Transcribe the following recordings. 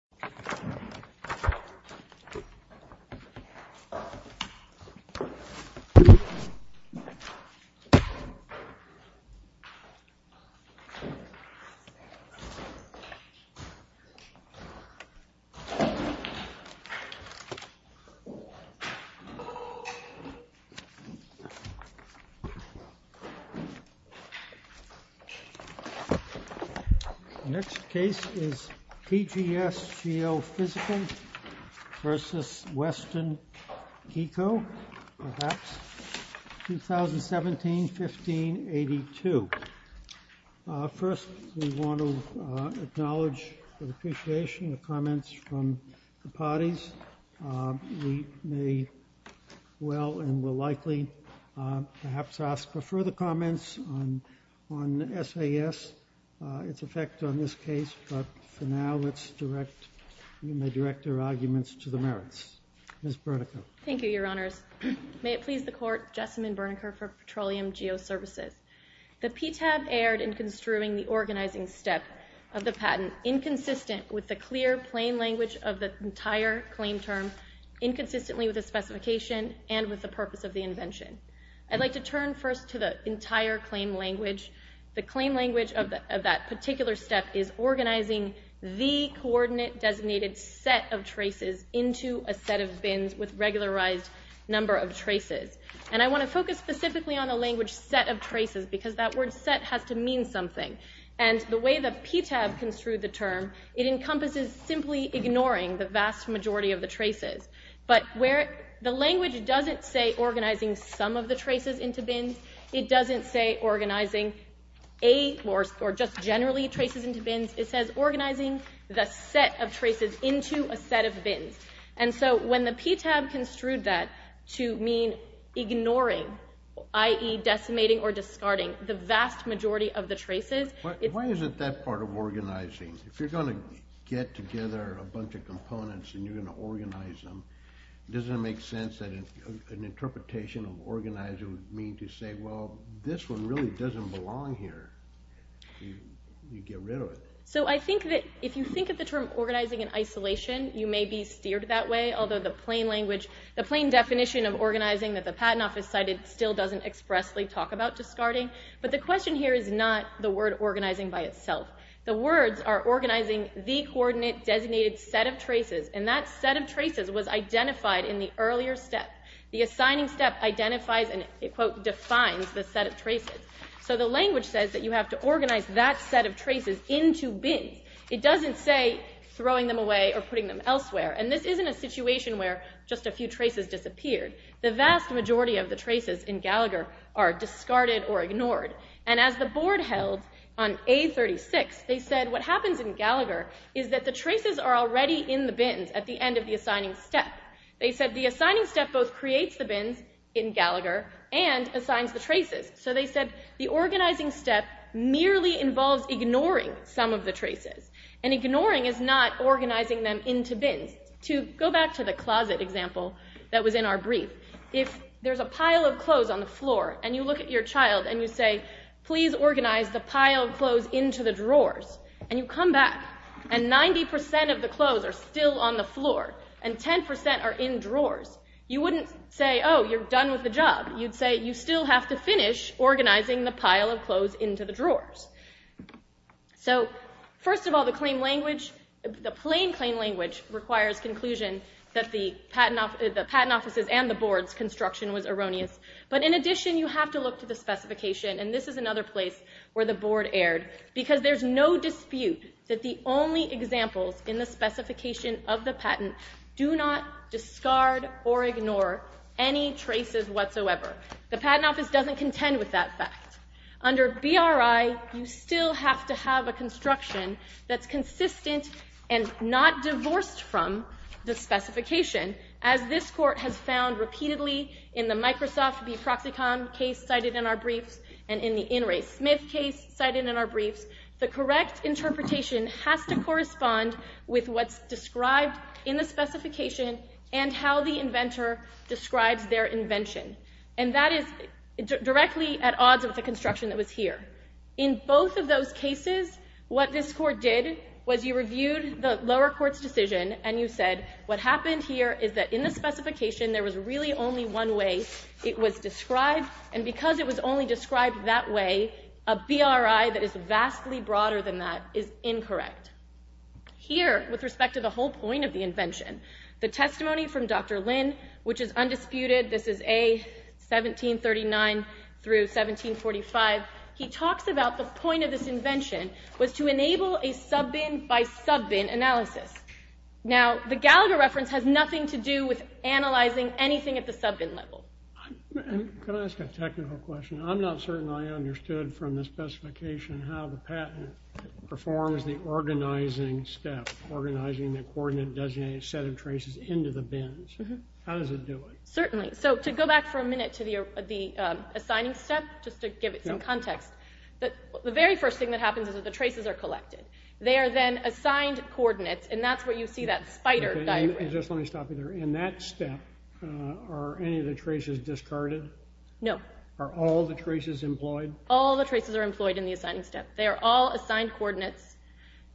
Geophysical AS v. Iancu Geophysical AS v. Western Keiko, 2017-15-82. First, we want to acknowledge the appreciation of comments from the parties. We may well and will likely perhaps ask for further comments on SAS, its effect on this case. But for now, let's direct our arguments to the merits. Ms. Bernicke. Thank you, Your Honors. May it please the Court, Jessamyn Bernicke for Petroleum Geoservices. The PTAB erred in construing the organizing step of the patent inconsistent with the clear, plain language of the entire claim term, inconsistently with the specification, and with the purpose of the invention. I'd like to turn first to the entire claim language. The claim language of that particular step is organizing the coordinate-designated set of traces into a set of bins with regularized number of traces. And I want to focus specifically on the language set of traces, because that word set has to mean something. And the way the PTAB construed the term, it encompasses simply ignoring the vast majority of the traces. But the language doesn't say organizing some of the traces into bins. It doesn't say organizing eight or just generally traces into bins. It says organizing the set of traces into a set of bins. And so when the PTAB construed that to mean ignoring, i.e., decimating or discarding the vast majority of the traces. Why is it that part of organizing? If you're going to get together a bunch of components and you're going to organize them, doesn't it make sense that an interpretation of organizing would mean to say, well, this one really doesn't belong here. You get rid of it. So I think that if you think of the term organizing in isolation, you may be steered that way, although the plain language, the plain definition of organizing that the Patent Office cited still doesn't expressly talk about discarding. But the question here is not the word organizing by itself. The words are organizing the coordinate designated set of traces. And that set of traces was identified in the earlier step. The assigning step identifies and, quote, defines the set of traces. So the language says that you have to organize that set of traces into bins. It doesn't say throwing them away or putting them elsewhere. And this isn't a situation where just a few traces disappeared. The vast majority of the traces in Gallagher are discarded or ignored. And as the board held on A36, they said what happens in Gallagher is that the traces are already in the bins at the end of the assigning step. They said the assigning step both creates the bins in Gallagher and assigns the traces. So they said the organizing step merely involves ignoring some of the traces. And ignoring is not organizing them into bins. To go back to the closet example that was in our brief, if there's a pile of clothes on the floor and you look at your child and you say, please organize the pile of clothes into the drawers and you come back and 90% of the clothes are still on the floor and 10% are in drawers, you wouldn't say, oh, you're done with the job. You'd say you still have to finish organizing the pile of clothes into the drawers. So first of all, the plain claim language requires conclusion that the patent offices and the board's construction was erroneous. But in addition, you have to look to the specification. And this is another place where the board erred. Because there's no dispute that the only examples in the specification of the patent do not discard or ignore any traces whatsoever. The patent office doesn't contend with that fact. Under BRI, you still have to have a construction that's consistent and not divorced from the specification. As this court has found repeatedly in the Microsoft v. Proxicon case cited in our briefs and in the In re. Smith case cited in our briefs, the correct interpretation has to correspond with what's described in the specification and how the inventor describes their invention. And that is directly at odds with the construction that was here. In both of those cases, what this court did was you reviewed the lower court's decision and you said, what happened here is that in the specification, there was really only one way it was described. And because it was only described that way, a BRI that is vastly broader than that is incorrect. Here, with respect to the whole point of the invention, the testimony from Dr. Lynn, which is undisputed, this is A. 1739 through 1745, he talks about the point of this invention was to enable a sub-bin by sub-bin analysis. Now, the Gallagher reference has nothing to do with analyzing anything at the sub-bin level. Can I ask a technical question? I'm not certain I understood from the specification how the patent performs the organizing step, organizing the coordinate designated set of traces into the bins. How does it do it? Certainly. So to go back for a minute to the assigning step, just to give it some context, the very first thing that happens is that the traces are collected. They are then assigned coordinates, and that's where you see that spider diagram. Just let me stop you there. In that step, are any of the traces discarded? No. Are all the traces employed? All the traces are employed in the assigning step. They are all assigned coordinates.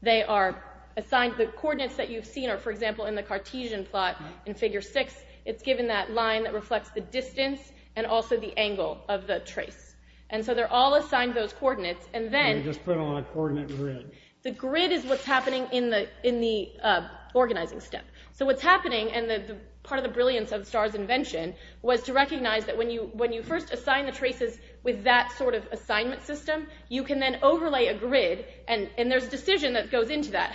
The coordinates that you've seen are, for example, in the Cartesian plot in Figure 6. It's given that line that reflects the distance and also the angle of the trace. And so they're all assigned those coordinates. And you just put them on a coordinate grid. The grid is what's happening in the organizing step. So what's happening, and part of the brilliance of Starr's invention, was to recognize that when you first assign the traces with that sort of assignment system, you can then overlay a grid, and there's a decision that goes into that,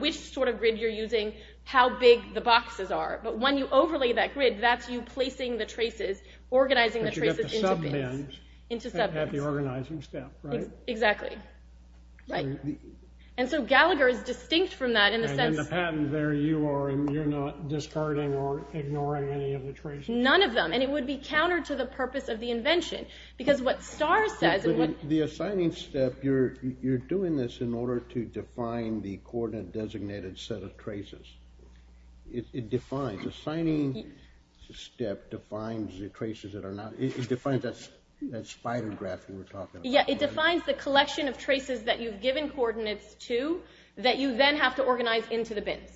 which sort of grid you're using, how big the boxes are. But when you overlay that grid, that's you placing the traces, organizing the traces into bins. But you have to sub-bin at the organizing step, right? Exactly. Right. And so Gallagher is distinct from that in the sense... And in the patent, there you are, and you're not discarding or ignoring any of the traces. None of them. And it would be counter to the purpose of the invention. Because what Starr says... The assigning step, you're doing this in order to define the coordinate-designated set of traces. It defines. The assigning step defines the traces that are not... It defines that spider graph that we're talking about. Yeah, it defines the collection of traces that you've given coordinates to, that you then have to organize into the bins.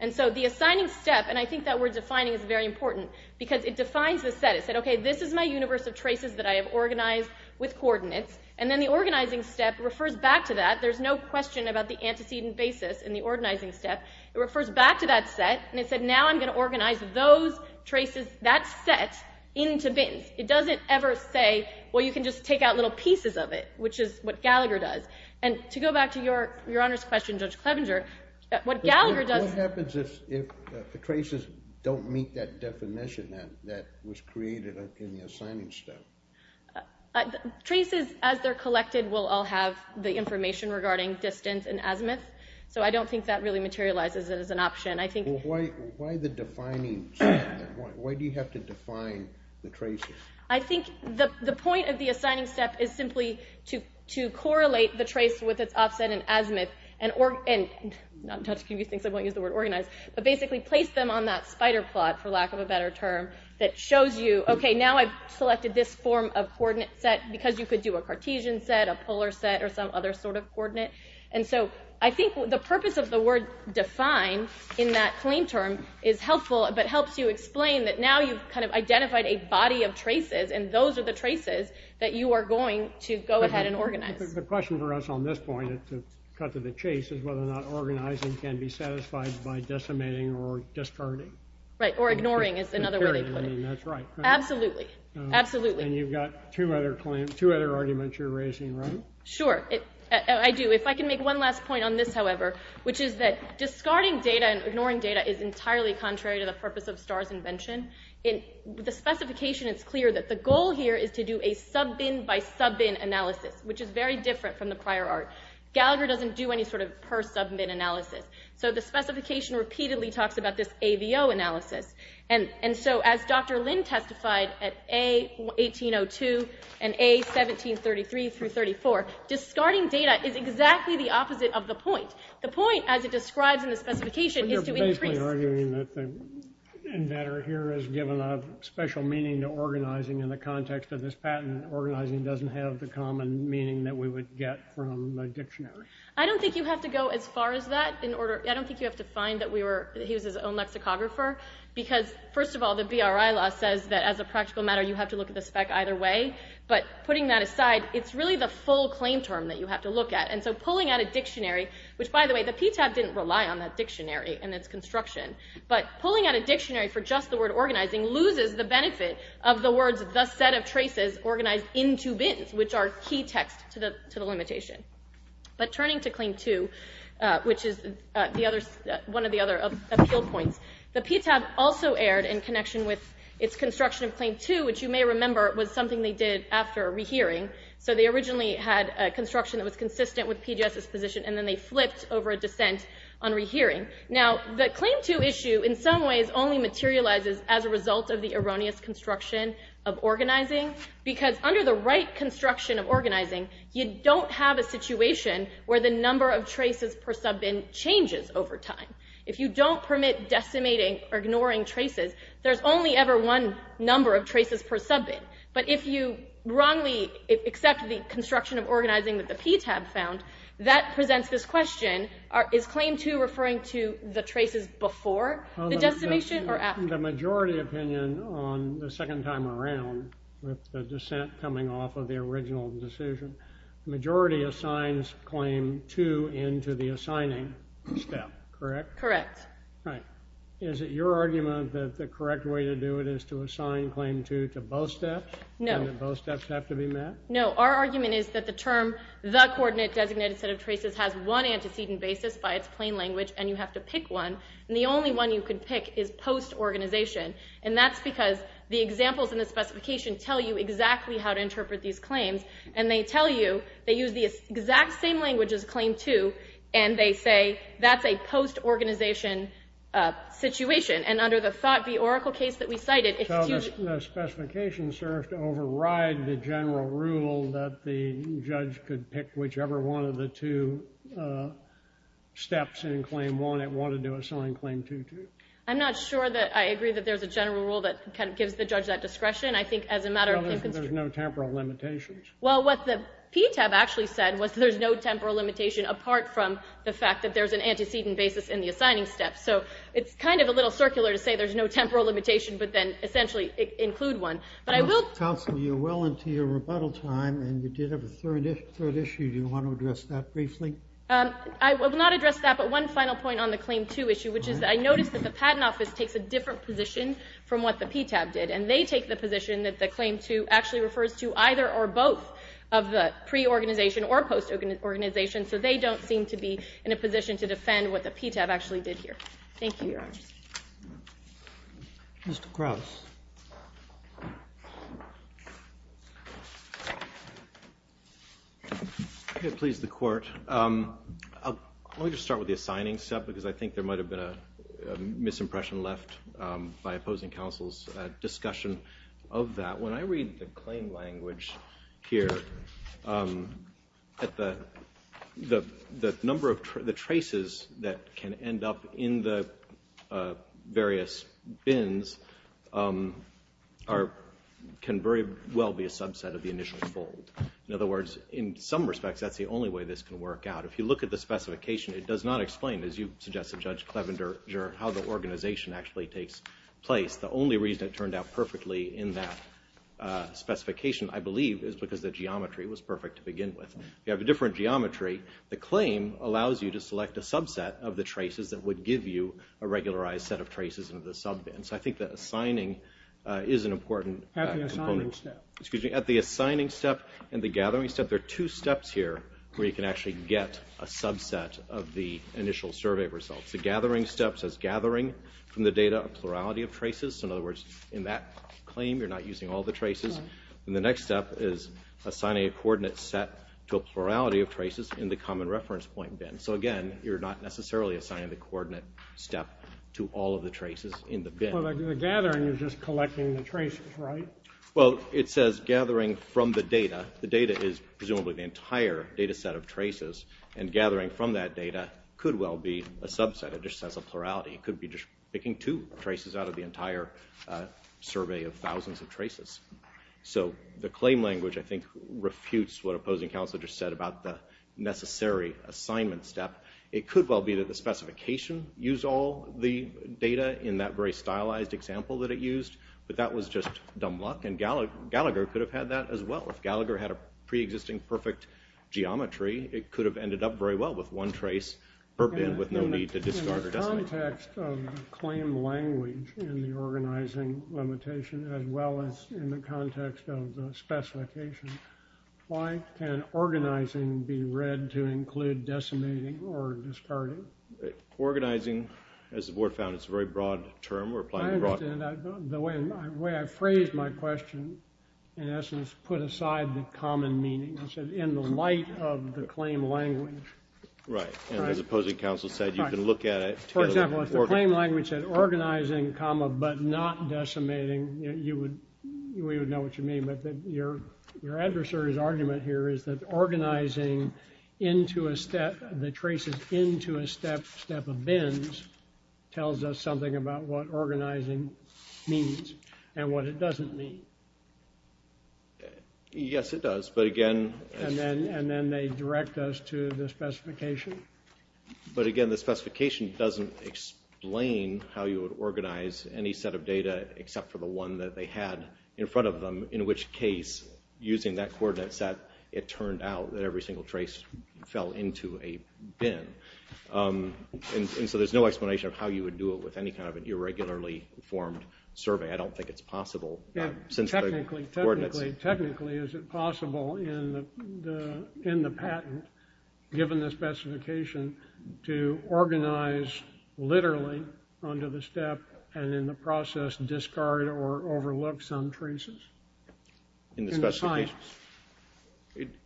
And so the assigning step, and I think that word defining is very important, because it defines the set. It said, okay, this is my universe of traces that I have organized with coordinates. And then the organizing step refers back to that. There's no question about the antecedent basis in the organizing step. It refers back to that set, and it said, now I'm going to organize those traces, that set, into bins. It doesn't ever say, well, you can just take out little pieces of it, which is what Gallagher does. And to go back to Your Honor's question, Judge Clevenger, what Gallagher does... The traces don't meet that definition that was created in the assigning step. Traces, as they're collected, will all have the information regarding distance and azimuth. So I don't think that really materializes it as an option. Why the defining step? Why do you have to define the traces? I think the point of the assigning step is simply to correlate the trace with its offset in azimuth, and basically place them on that spider plot, for lack of a better term, that shows you, okay, now I've selected this form of coordinate set, because you could do a Cartesian set, a polar set, or some other sort of coordinate. And so I think the purpose of the word define in that claim term is helpful, but helps you explain that now you've kind of identified a body of traces, and those are the traces that you are going to go ahead and organize. The question for us on this point, to cut to the chase, is whether or not organizing can be satisfied by decimating or discarding. Right, or ignoring is another way they put it. That's right. Absolutely, absolutely. And you've got two other arguments you're raising, right? Sure, I do. If I can make one last point on this, however, which is that discarding data and ignoring data is entirely contrary to the purpose of Starr's invention. In the specification, it's clear that the goal here is to do a sub-bin by sub-bin analysis, which is very different from the prior art. Gallagher doesn't do any sort of per-sub-bin analysis. So the specification repeatedly talks about this AVO analysis. And so as Dr. Lin testified at A1802 and A1733-34, discarding data is exactly the opposite of the point. The point, as it describes in the specification, is to increase... But you're basically arguing that the inventor here has given a special meaning to organizing in the context of this patent. Organizing doesn't have the common meaning that we would get from a dictionary. I don't think you have to go as far as that. I don't think you have to find that he was his own lexicographer. Because, first of all, the BRI law says that as a practical matter, you have to look at the spec either way. But putting that aside, it's really the full claim term that you have to look at. And so pulling out a dictionary, which, by the way, the PTAB didn't rely on that dictionary in its construction. But pulling out a dictionary for just the word organizing loses the benefit of the words the set of traces organized in two bins, which are key text to the limitation. But turning to Claim 2, which is one of the other appeal points, the PTAB also erred in connection with its construction of Claim 2, which you may remember was something they did after rehearing. So they originally had construction that was consistent with PGS's position, and then they flipped over a dissent on rehearing. Now, the Claim 2 issue, in some ways, only materializes as a result of the erroneous construction of organizing. Because under the right construction of organizing, you don't have a situation where the number of traces per sub-bin changes over time. If you don't permit decimating or ignoring traces, there's only ever one number of traces per sub-bin. But if you wrongly accept the construction of organizing that the PTAB found, that presents this question. Is Claim 2 referring to the traces before the decimation or after? The majority opinion on the second time around, with the dissent coming off of the original decision, the majority assigns Claim 2 into the assigning step, correct? Correct. Right. Is it your argument that the correct way to do it is to assign Claim 2 to both steps? No. And that both steps have to be met? No. Our argument is that the term the coordinate designated set of traces has one antecedent basis by its plain language, and you have to pick one. And the only one you can pick is post-organization. And that's because the examples in the specification tell you exactly how to interpret these claims. And they tell you they use the exact same language as Claim 2, and they say that's a post-organization situation. And under the Thought v. Oracle case that we cited, it's too— Doesn't the specification serve to override the general rule that the judge could pick whichever one of the two steps in Claim 1 it wanted to assign Claim 2 to? I'm not sure that I agree that there's a general rule that kind of gives the judge that discretion. I think as a matter of— There's no temporal limitations. Well, what the PTAB actually said was there's no temporal limitation apart from the fact that there's an antecedent basis in the assigning step. So it's kind of a little circular to say there's no temporal limitation, but then essentially include one. But I will— Counsel, you're well into your rebuttal time, and you did have a third issue. Do you want to address that briefly? I will not address that, but one final point on the Claim 2 issue, which is that I noticed that the Patent Office takes a different position from what the PTAB did. And they take the position that the Claim 2 actually refers to either or both of the pre-organization or post-organization, what the PTAB actually did here. Thank you, Your Honors. Mr. Krauss. If it pleases the Court, let me just start with the assigning step because I think there might have been a misimpression left by opposing counsel's discussion of that. When I read the claim language here, the number of traces that can end up in the various bins can very well be a subset of the initial fold. In other words, in some respects, that's the only way this can work out. If you look at the specification, it does not explain, as you suggested, Judge Clevenger, how the organization actually takes place. It's because the geometry was perfect to begin with. You have a different geometry. The claim allows you to select a subset of the traces that would give you a regularized set of traces in the sub-bin. So I think that assigning is an important component. At the assigning step and the gathering step, there are two steps here where you can actually get a subset of the initial survey results. The gathering step says, gathering from the data a plurality of traces. In other words, in that claim, you're not using all the traces. The next step is assigning a coordinate set to a plurality of traces in the common reference point bin. So again, you're not necessarily assigning the coordinate step to all of the traces in the bin. The gathering is just collecting the traces, right? Well, it says gathering from the data. The data is presumably the entire data set of traces, and gathering from that data could well be a subset. It just says a plurality. It could be just picking two traces out of the entire survey of thousands of traces. So the claim language, I think, refutes what opposing counsel just said about the necessary assignment step. It could well be that the specification used all the data in that very stylized example that it used, but that was just dumb luck, and Gallagher could have had that as well. If Gallagher had a pre-existing perfect geometry, it could have ended up very well with one trace per bin with no need to discard or designate. In the context of claim language in the organizing limitation as well as in the context of the specification, why can organizing be read to include decimating or discarding? Organizing, as the board found, is a very broad term. I understand. The way I phrased my question, in essence, put aside the common meaning. It said in the light of the claim language. Right, and as opposing counsel said, you can look at it... For example, if the claim language said not decimating, we would know what you mean, but your adversary's argument here is that organizing the traces into a step of bins tells us something about what organizing means and what it doesn't mean. Yes, it does, but again... And then they direct us to the specification. But again, the specification doesn't explain how you would organize any set of data except for the one that they had in front of them, in which case, using that coordinate set, it turned out that every single trace fell into a bin. And so there's no explanation of how you would do it with any kind of an irregularly formed survey. I don't think it's possible. Technically, is it possible in the patent, given the specification, to organize literally onto the step and in the process discard or overlook some traces? In the specification?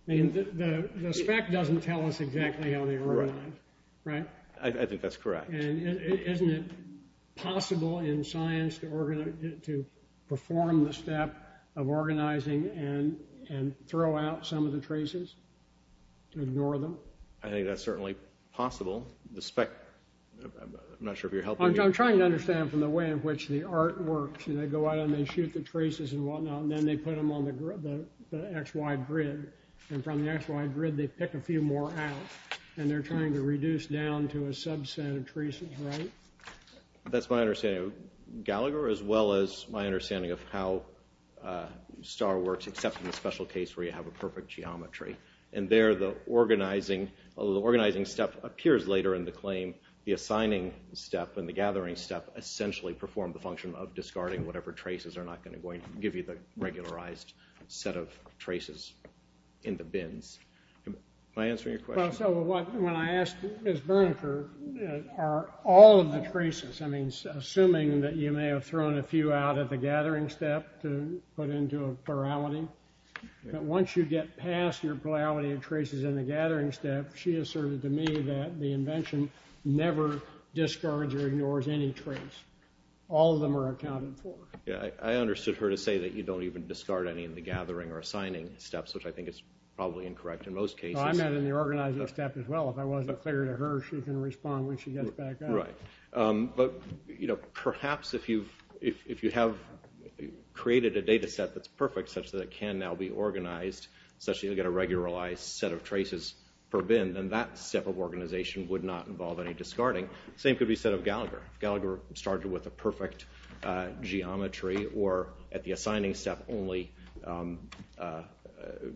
The spec doesn't tell us exactly how they were organized, right? I think that's correct. And isn't it possible in science to perform the step of organizing and throw out some of the traces, to ignore them? I think that's certainly possible. The spec... I'm not sure if you're helping me. I'm trying to understand from the way in which the art works. They go out and they shoot the traces and whatnot, and then they put them on the XY grid. And from the XY grid, they pick a few more out, and they're trying to reduce down to a subset of traces, right? That's my understanding. Gallagher, as well as my understanding of how STAR works, except in the special case where you have a perfect geometry. And there, the organizing step appears later in the claim. The assigning step and the gathering step essentially perform the function of discarding whatever traces are not going to give you the regularized set of traces in the bins. Am I answering your question? Well, so when I asked Ms. Berniker, are all of the traces, I mean, assuming that you may have thrown a few out of the gathering step to put into a plurality, but once you get past your plurality of traces in the gathering step, she asserted to me that the invention never discards or ignores any trace. All of them are accounted for. Yeah, I understood her to say that you don't even discard any in the gathering or assigning steps, which I think is probably incorrect in most cases. No, I meant in the organizing step as well. If I wasn't clear to her, she can respond when she gets back up. Right, but perhaps if you have created a data set that's perfect such that it can now be organized, such that you'll get a regularized set of traces per bin, then that step of organization would not involve any discarding. The same could be said of Gallagher. If Gallagher started with a perfect geometry or at the assigning step only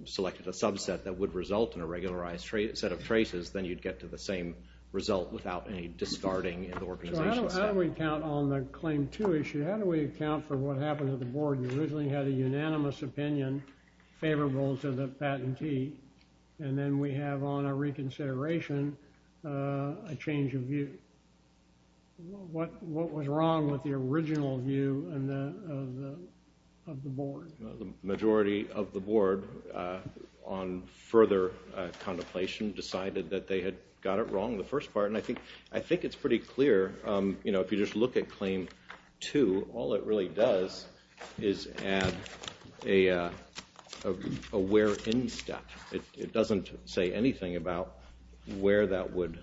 selected a subset that would result in a regularized set of traces, then you'd get to the same result without any discarding in the organization step. So how do we count on the Claim 2 issue? How do we account for what happened to the board? We originally had a unanimous opinion favorable to the patentee, and then we have on a reconsideration a change of view. What was wrong with the original view of the board? The majority of the board, on further contemplation, decided that they had got it wrong in the first part, and I think it's pretty clear. If you just look at Claim 2, all it really does is add a where-in step. It doesn't say anything about where that would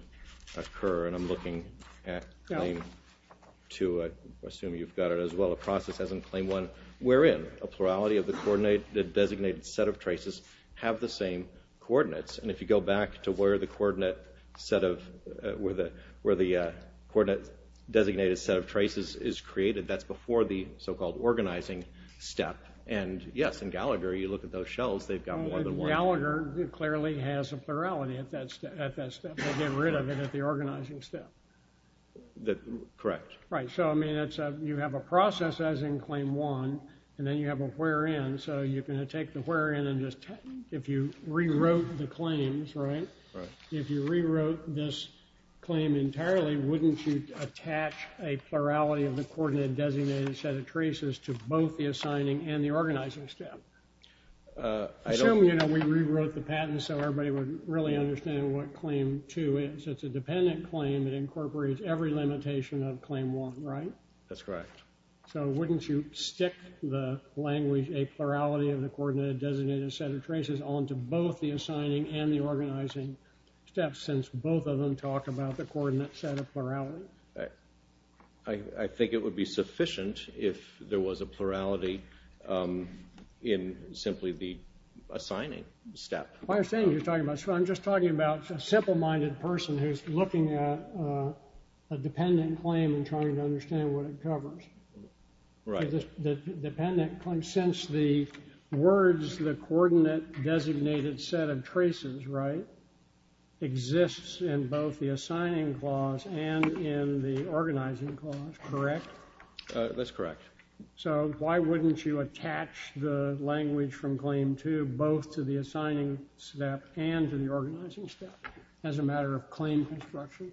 occur, and I'm looking at Claim 2. I assume you've got it as well. A process as in Claim 1 wherein a plurality of the designated set of traces have the same coordinates, and if you go back to where the coordinate designated set of traces is created, that's before the so-called organizing step, and yes, in Gallagher, you look at those shells, they've got more than one. In Gallagher, it clearly has a plurality at that step. They get rid of it at the organizing step. Correct. Right, so you have a process as in Claim 1, and then you have a where-in, so you're going to take the where-in and if you rewrote the claims, right? If you rewrote this claim entirely, wouldn't you attach a plurality of the coordinate designated set of traces to both the assigning and the organizing step? Assuming we rewrote the patent so everybody would really understand what Claim 2 is. It's a dependent claim. It incorporates every limitation of Claim 1, right? That's correct. So wouldn't you stick the language, a plurality of the coordinate designated set of traces onto both the assigning and the organizing steps since both of them talk about the coordinate set of plurality? I think it would be sufficient if there was a plurality in simply the assigning step. I understand what you're talking about. So I'm just talking about a simple-minded person who's looking at a dependent claim and trying to understand what it covers. Right. The dependent claim, since the words, the coordinate designated set of traces, right, exists in both the assigning clause and in the organizing clause, correct? That's correct. So why wouldn't you attach the language from Claim 2 both to the assigning step and to the organizing step as a matter of claim construction?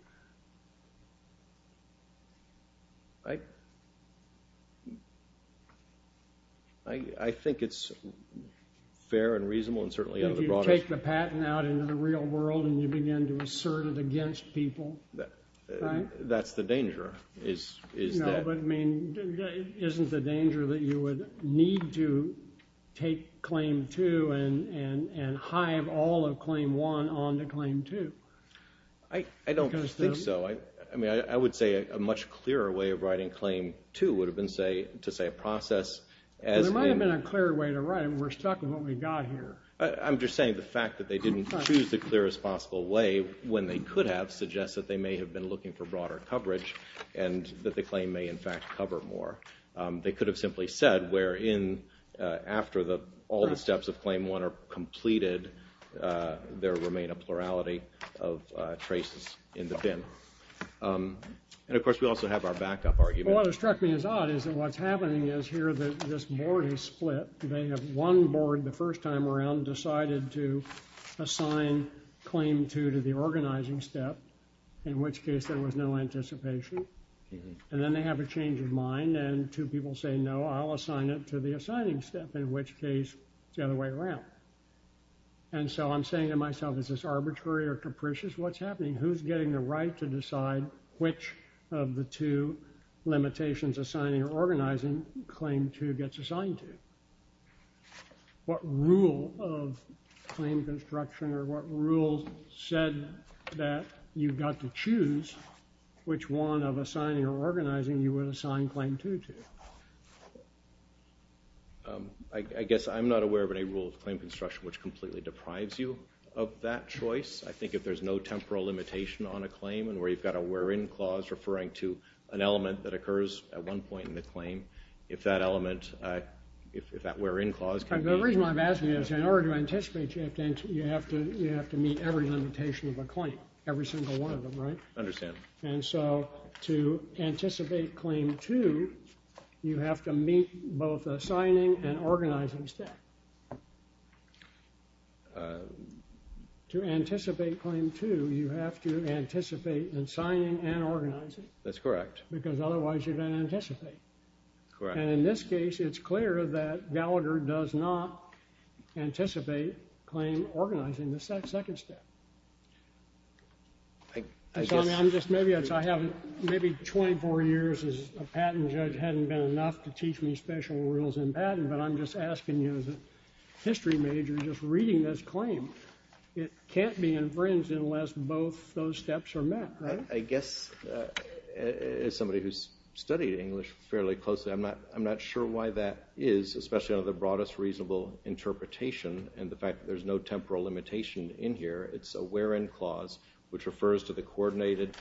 I think it's fair and reasonable and certainly out of the broadest... If you take the patent out into the real world and you begin to assert it against people, right? That's the danger, is that... No, but, I mean, isn't the danger that you would need to take Claim 2 and hive all of Claim 1 onto Claim 2? I don't think so. I mean, I would say a much clearer way of writing Claim 2 would have been to say a process as... There might have been a clearer way to write it. We're stuck with what we've got here. I'm just saying the fact that they didn't choose the clearest possible way when they could have suggests that they may have been looking for broader coverage and that the claim may, in fact, cover more. They could have simply said where in after all the steps of Claim 1 are completed there remain a plurality of traces in the bin. And, of course, we also have our backup argument. Well, what struck me as odd is that what's happening is here that this board is split. They have one board the first time around decided to assign Claim 2 to the organizing step in which case there was no anticipation. And then they have a change of mind and two people say, no, I'll assign it to the assigning step in which case it's the other way around. And so I'm saying to myself, is this arbitrary or capricious what's happening? Who's getting the right to decide which of the two limitations assigning or organizing Claim 2 gets assigned to? What rule of claim construction or what rule said that you've got to choose which one of assigning or organizing you would assign Claim 2 to? I guess I'm not aware of any rule of claim construction which completely deprives you of that choice. I think if there's no temporal limitation on a claim and where you've got a where in clause referring to an element that occurs at one point in the claim, if that element, if that where in clause can be. The reason I'm asking is in order to anticipate you have to meet every limitation of a claim, every single one of them, right? I understand. And so to anticipate Claim 2, you have to meet both assigning and organizing step. To anticipate Claim 2, you have to anticipate in assigning and organizing. That's correct. Because otherwise you don't anticipate. And in this case, it's clear that Gallagher does not anticipate claim organizing the second step. I'm just maybe, I haven't, maybe 24 years as a patent judge hadn't been enough to teach me special rules in patent, but I'm just asking you as a history major just reading this claim. It can't be infringed unless both those steps are met, right? I guess as somebody who's studied English fairly closely, I'm not sure why that is, especially under the broadest reasonable interpretation and the fact that there's no temporal limitation in here. It's a where in clause which refers to the coordinate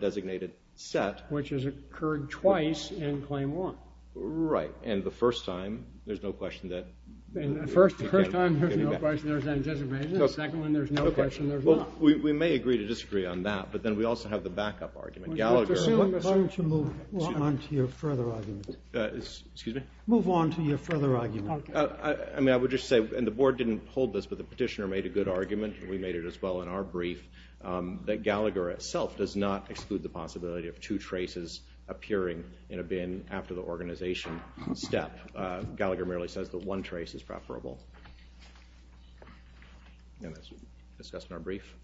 designated set. Which has occurred twice in Claim 1. Right. And the first time, there's no question that. The first time, there's no question there's anticipation. The second one, there's no question there's not. We may agree to disagree on that, but then we also have the backup argument. Gallagher. Why don't you move on to your further argument? Excuse me? Move on to your further argument. I mean, I would just say, and the board didn't hold this, but the petitioner made a good argument, and we made it as well in our brief, that Gallagher itself does not exclude the possibility of two traces appearing in a bin after the organization step. Gallagher merely says that one trace is preferable. And that's discussed in our brief.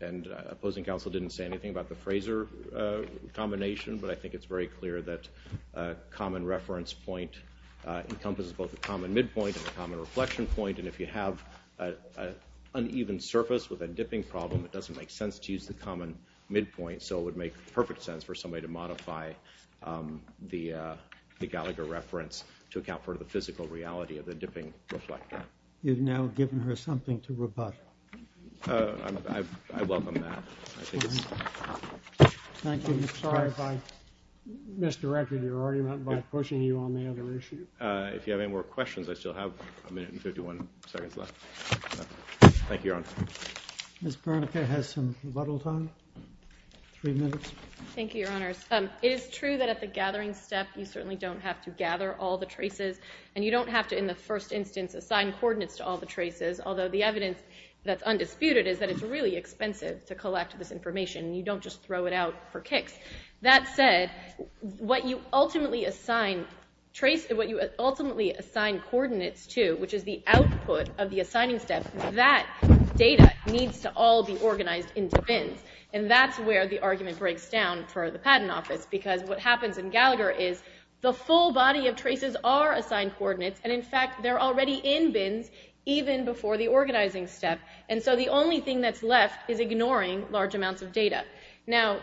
And opposing counsel didn't say anything about the Fraser combination, but I think it's very clear that a common reference point encompasses both a common midpoint and a common reflection point. And if you have an uneven surface with a dipping problem, it doesn't make sense to use the common midpoint, so it would make perfect sense for somebody to modify the Gallagher reference to account for the physical reality of the dipping reflector. You've now given her something to rebut. I welcome that. Thank you. Sorry if I misdirected your argument by pushing you on the other issue. If you have any more questions, I still have a minute and 51 seconds left. Thank you, Your Honor. Ms. Bernicke has some rebuttal time, three minutes. Thank you, Your Honors. It is true that at the gathering step you certainly don't have to gather all the traces, and you don't have to in the first instance assign coordinates to all the traces, although the evidence that's undisputed is that it's really expensive That said, what you ultimately assign coordinates to, which is the output of the assigning step, that data needs to all be organized into bins, and that's where the argument breaks down for the Patent Office, because what happens in Gallagher is the full body of traces are assigned coordinates, and in fact they're already in bins even before the organizing step, and so the only thing that's left is ignoring large amounts of data. Now,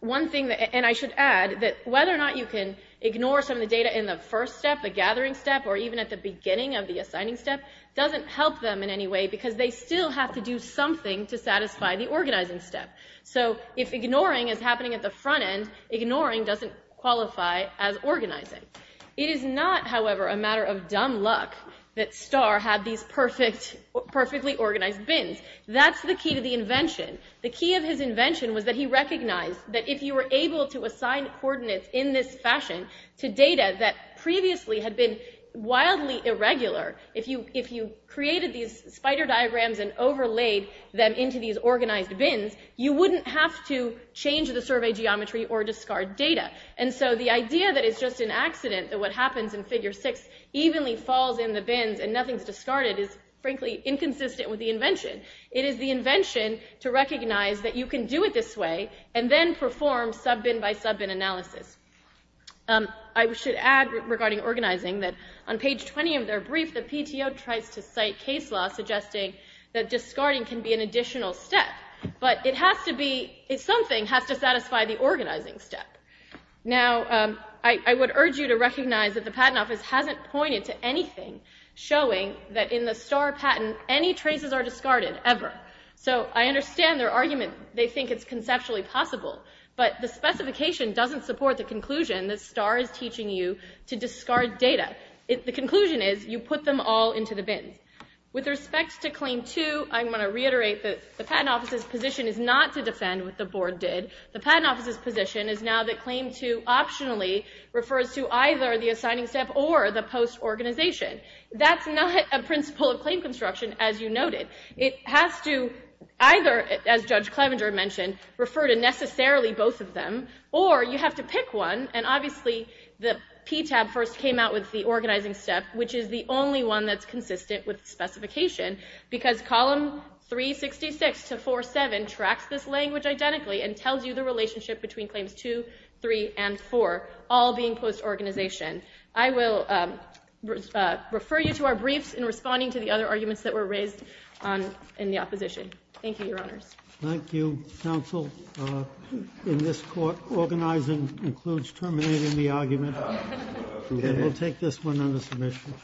one thing, and I should add, that whether or not you can ignore some of the data in the first step, the gathering step, or even at the beginning of the assigning step, doesn't help them in any way because they still have to do something to satisfy the organizing step. So if ignoring is happening at the front end, ignoring doesn't qualify as organizing. It is not, however, a matter of dumb luck that Starr had these perfectly organized bins. That's the key to the invention. The key of his invention was that he recognized that if you were able to assign coordinates in this fashion to data that previously had been wildly irregular, if you created these spider diagrams and overlaid them into these organized bins, you wouldn't have to change the survey geometry or discard data. And so the idea that it's just an accident that what happens in Figure 6 evenly falls in the bins and nothing's discarded is, frankly, inconsistent with the invention. It is the invention to recognize that you can do it this way and then perform sub-bin by sub-bin analysis. I should add, regarding organizing, that on page 20 of their brief, the PTO tries to cite case law suggesting that discarding can be an additional step, but it has to be, something has to satisfy the organizing step. Now, I would urge you to recognize that the Patent Office hasn't pointed to anything showing that in the Starr patent any traces are discarded, ever. So I understand their argument. They think it's conceptually possible, but the specification doesn't support the conclusion that Starr is teaching you to discard data. The conclusion is you put them all into the bins. With respect to Claim 2, I want to reiterate that the Patent Office's position is not to defend what the Board did. The Patent Office's position is now that Claim 2 optionally refers to either the assigning step or the post-organization. That's not a principle of claim construction, as you noted. It has to either, as Judge Clevenger mentioned, refer to necessarily both of them, or you have to pick one, and obviously the PTAB first came out with the organizing step, which is the only one that's consistent with the specification, because Column 366-47 tracks this language identically and tells you the relationship between Claims 2, 3, and 4, all being post-organization. I will refer you to our briefs in responding to the other arguments that were raised in the opposition. Thank you, Your Honors. Thank you, Counsel. In this court, organizing includes terminating the argument. We'll take this one under submission.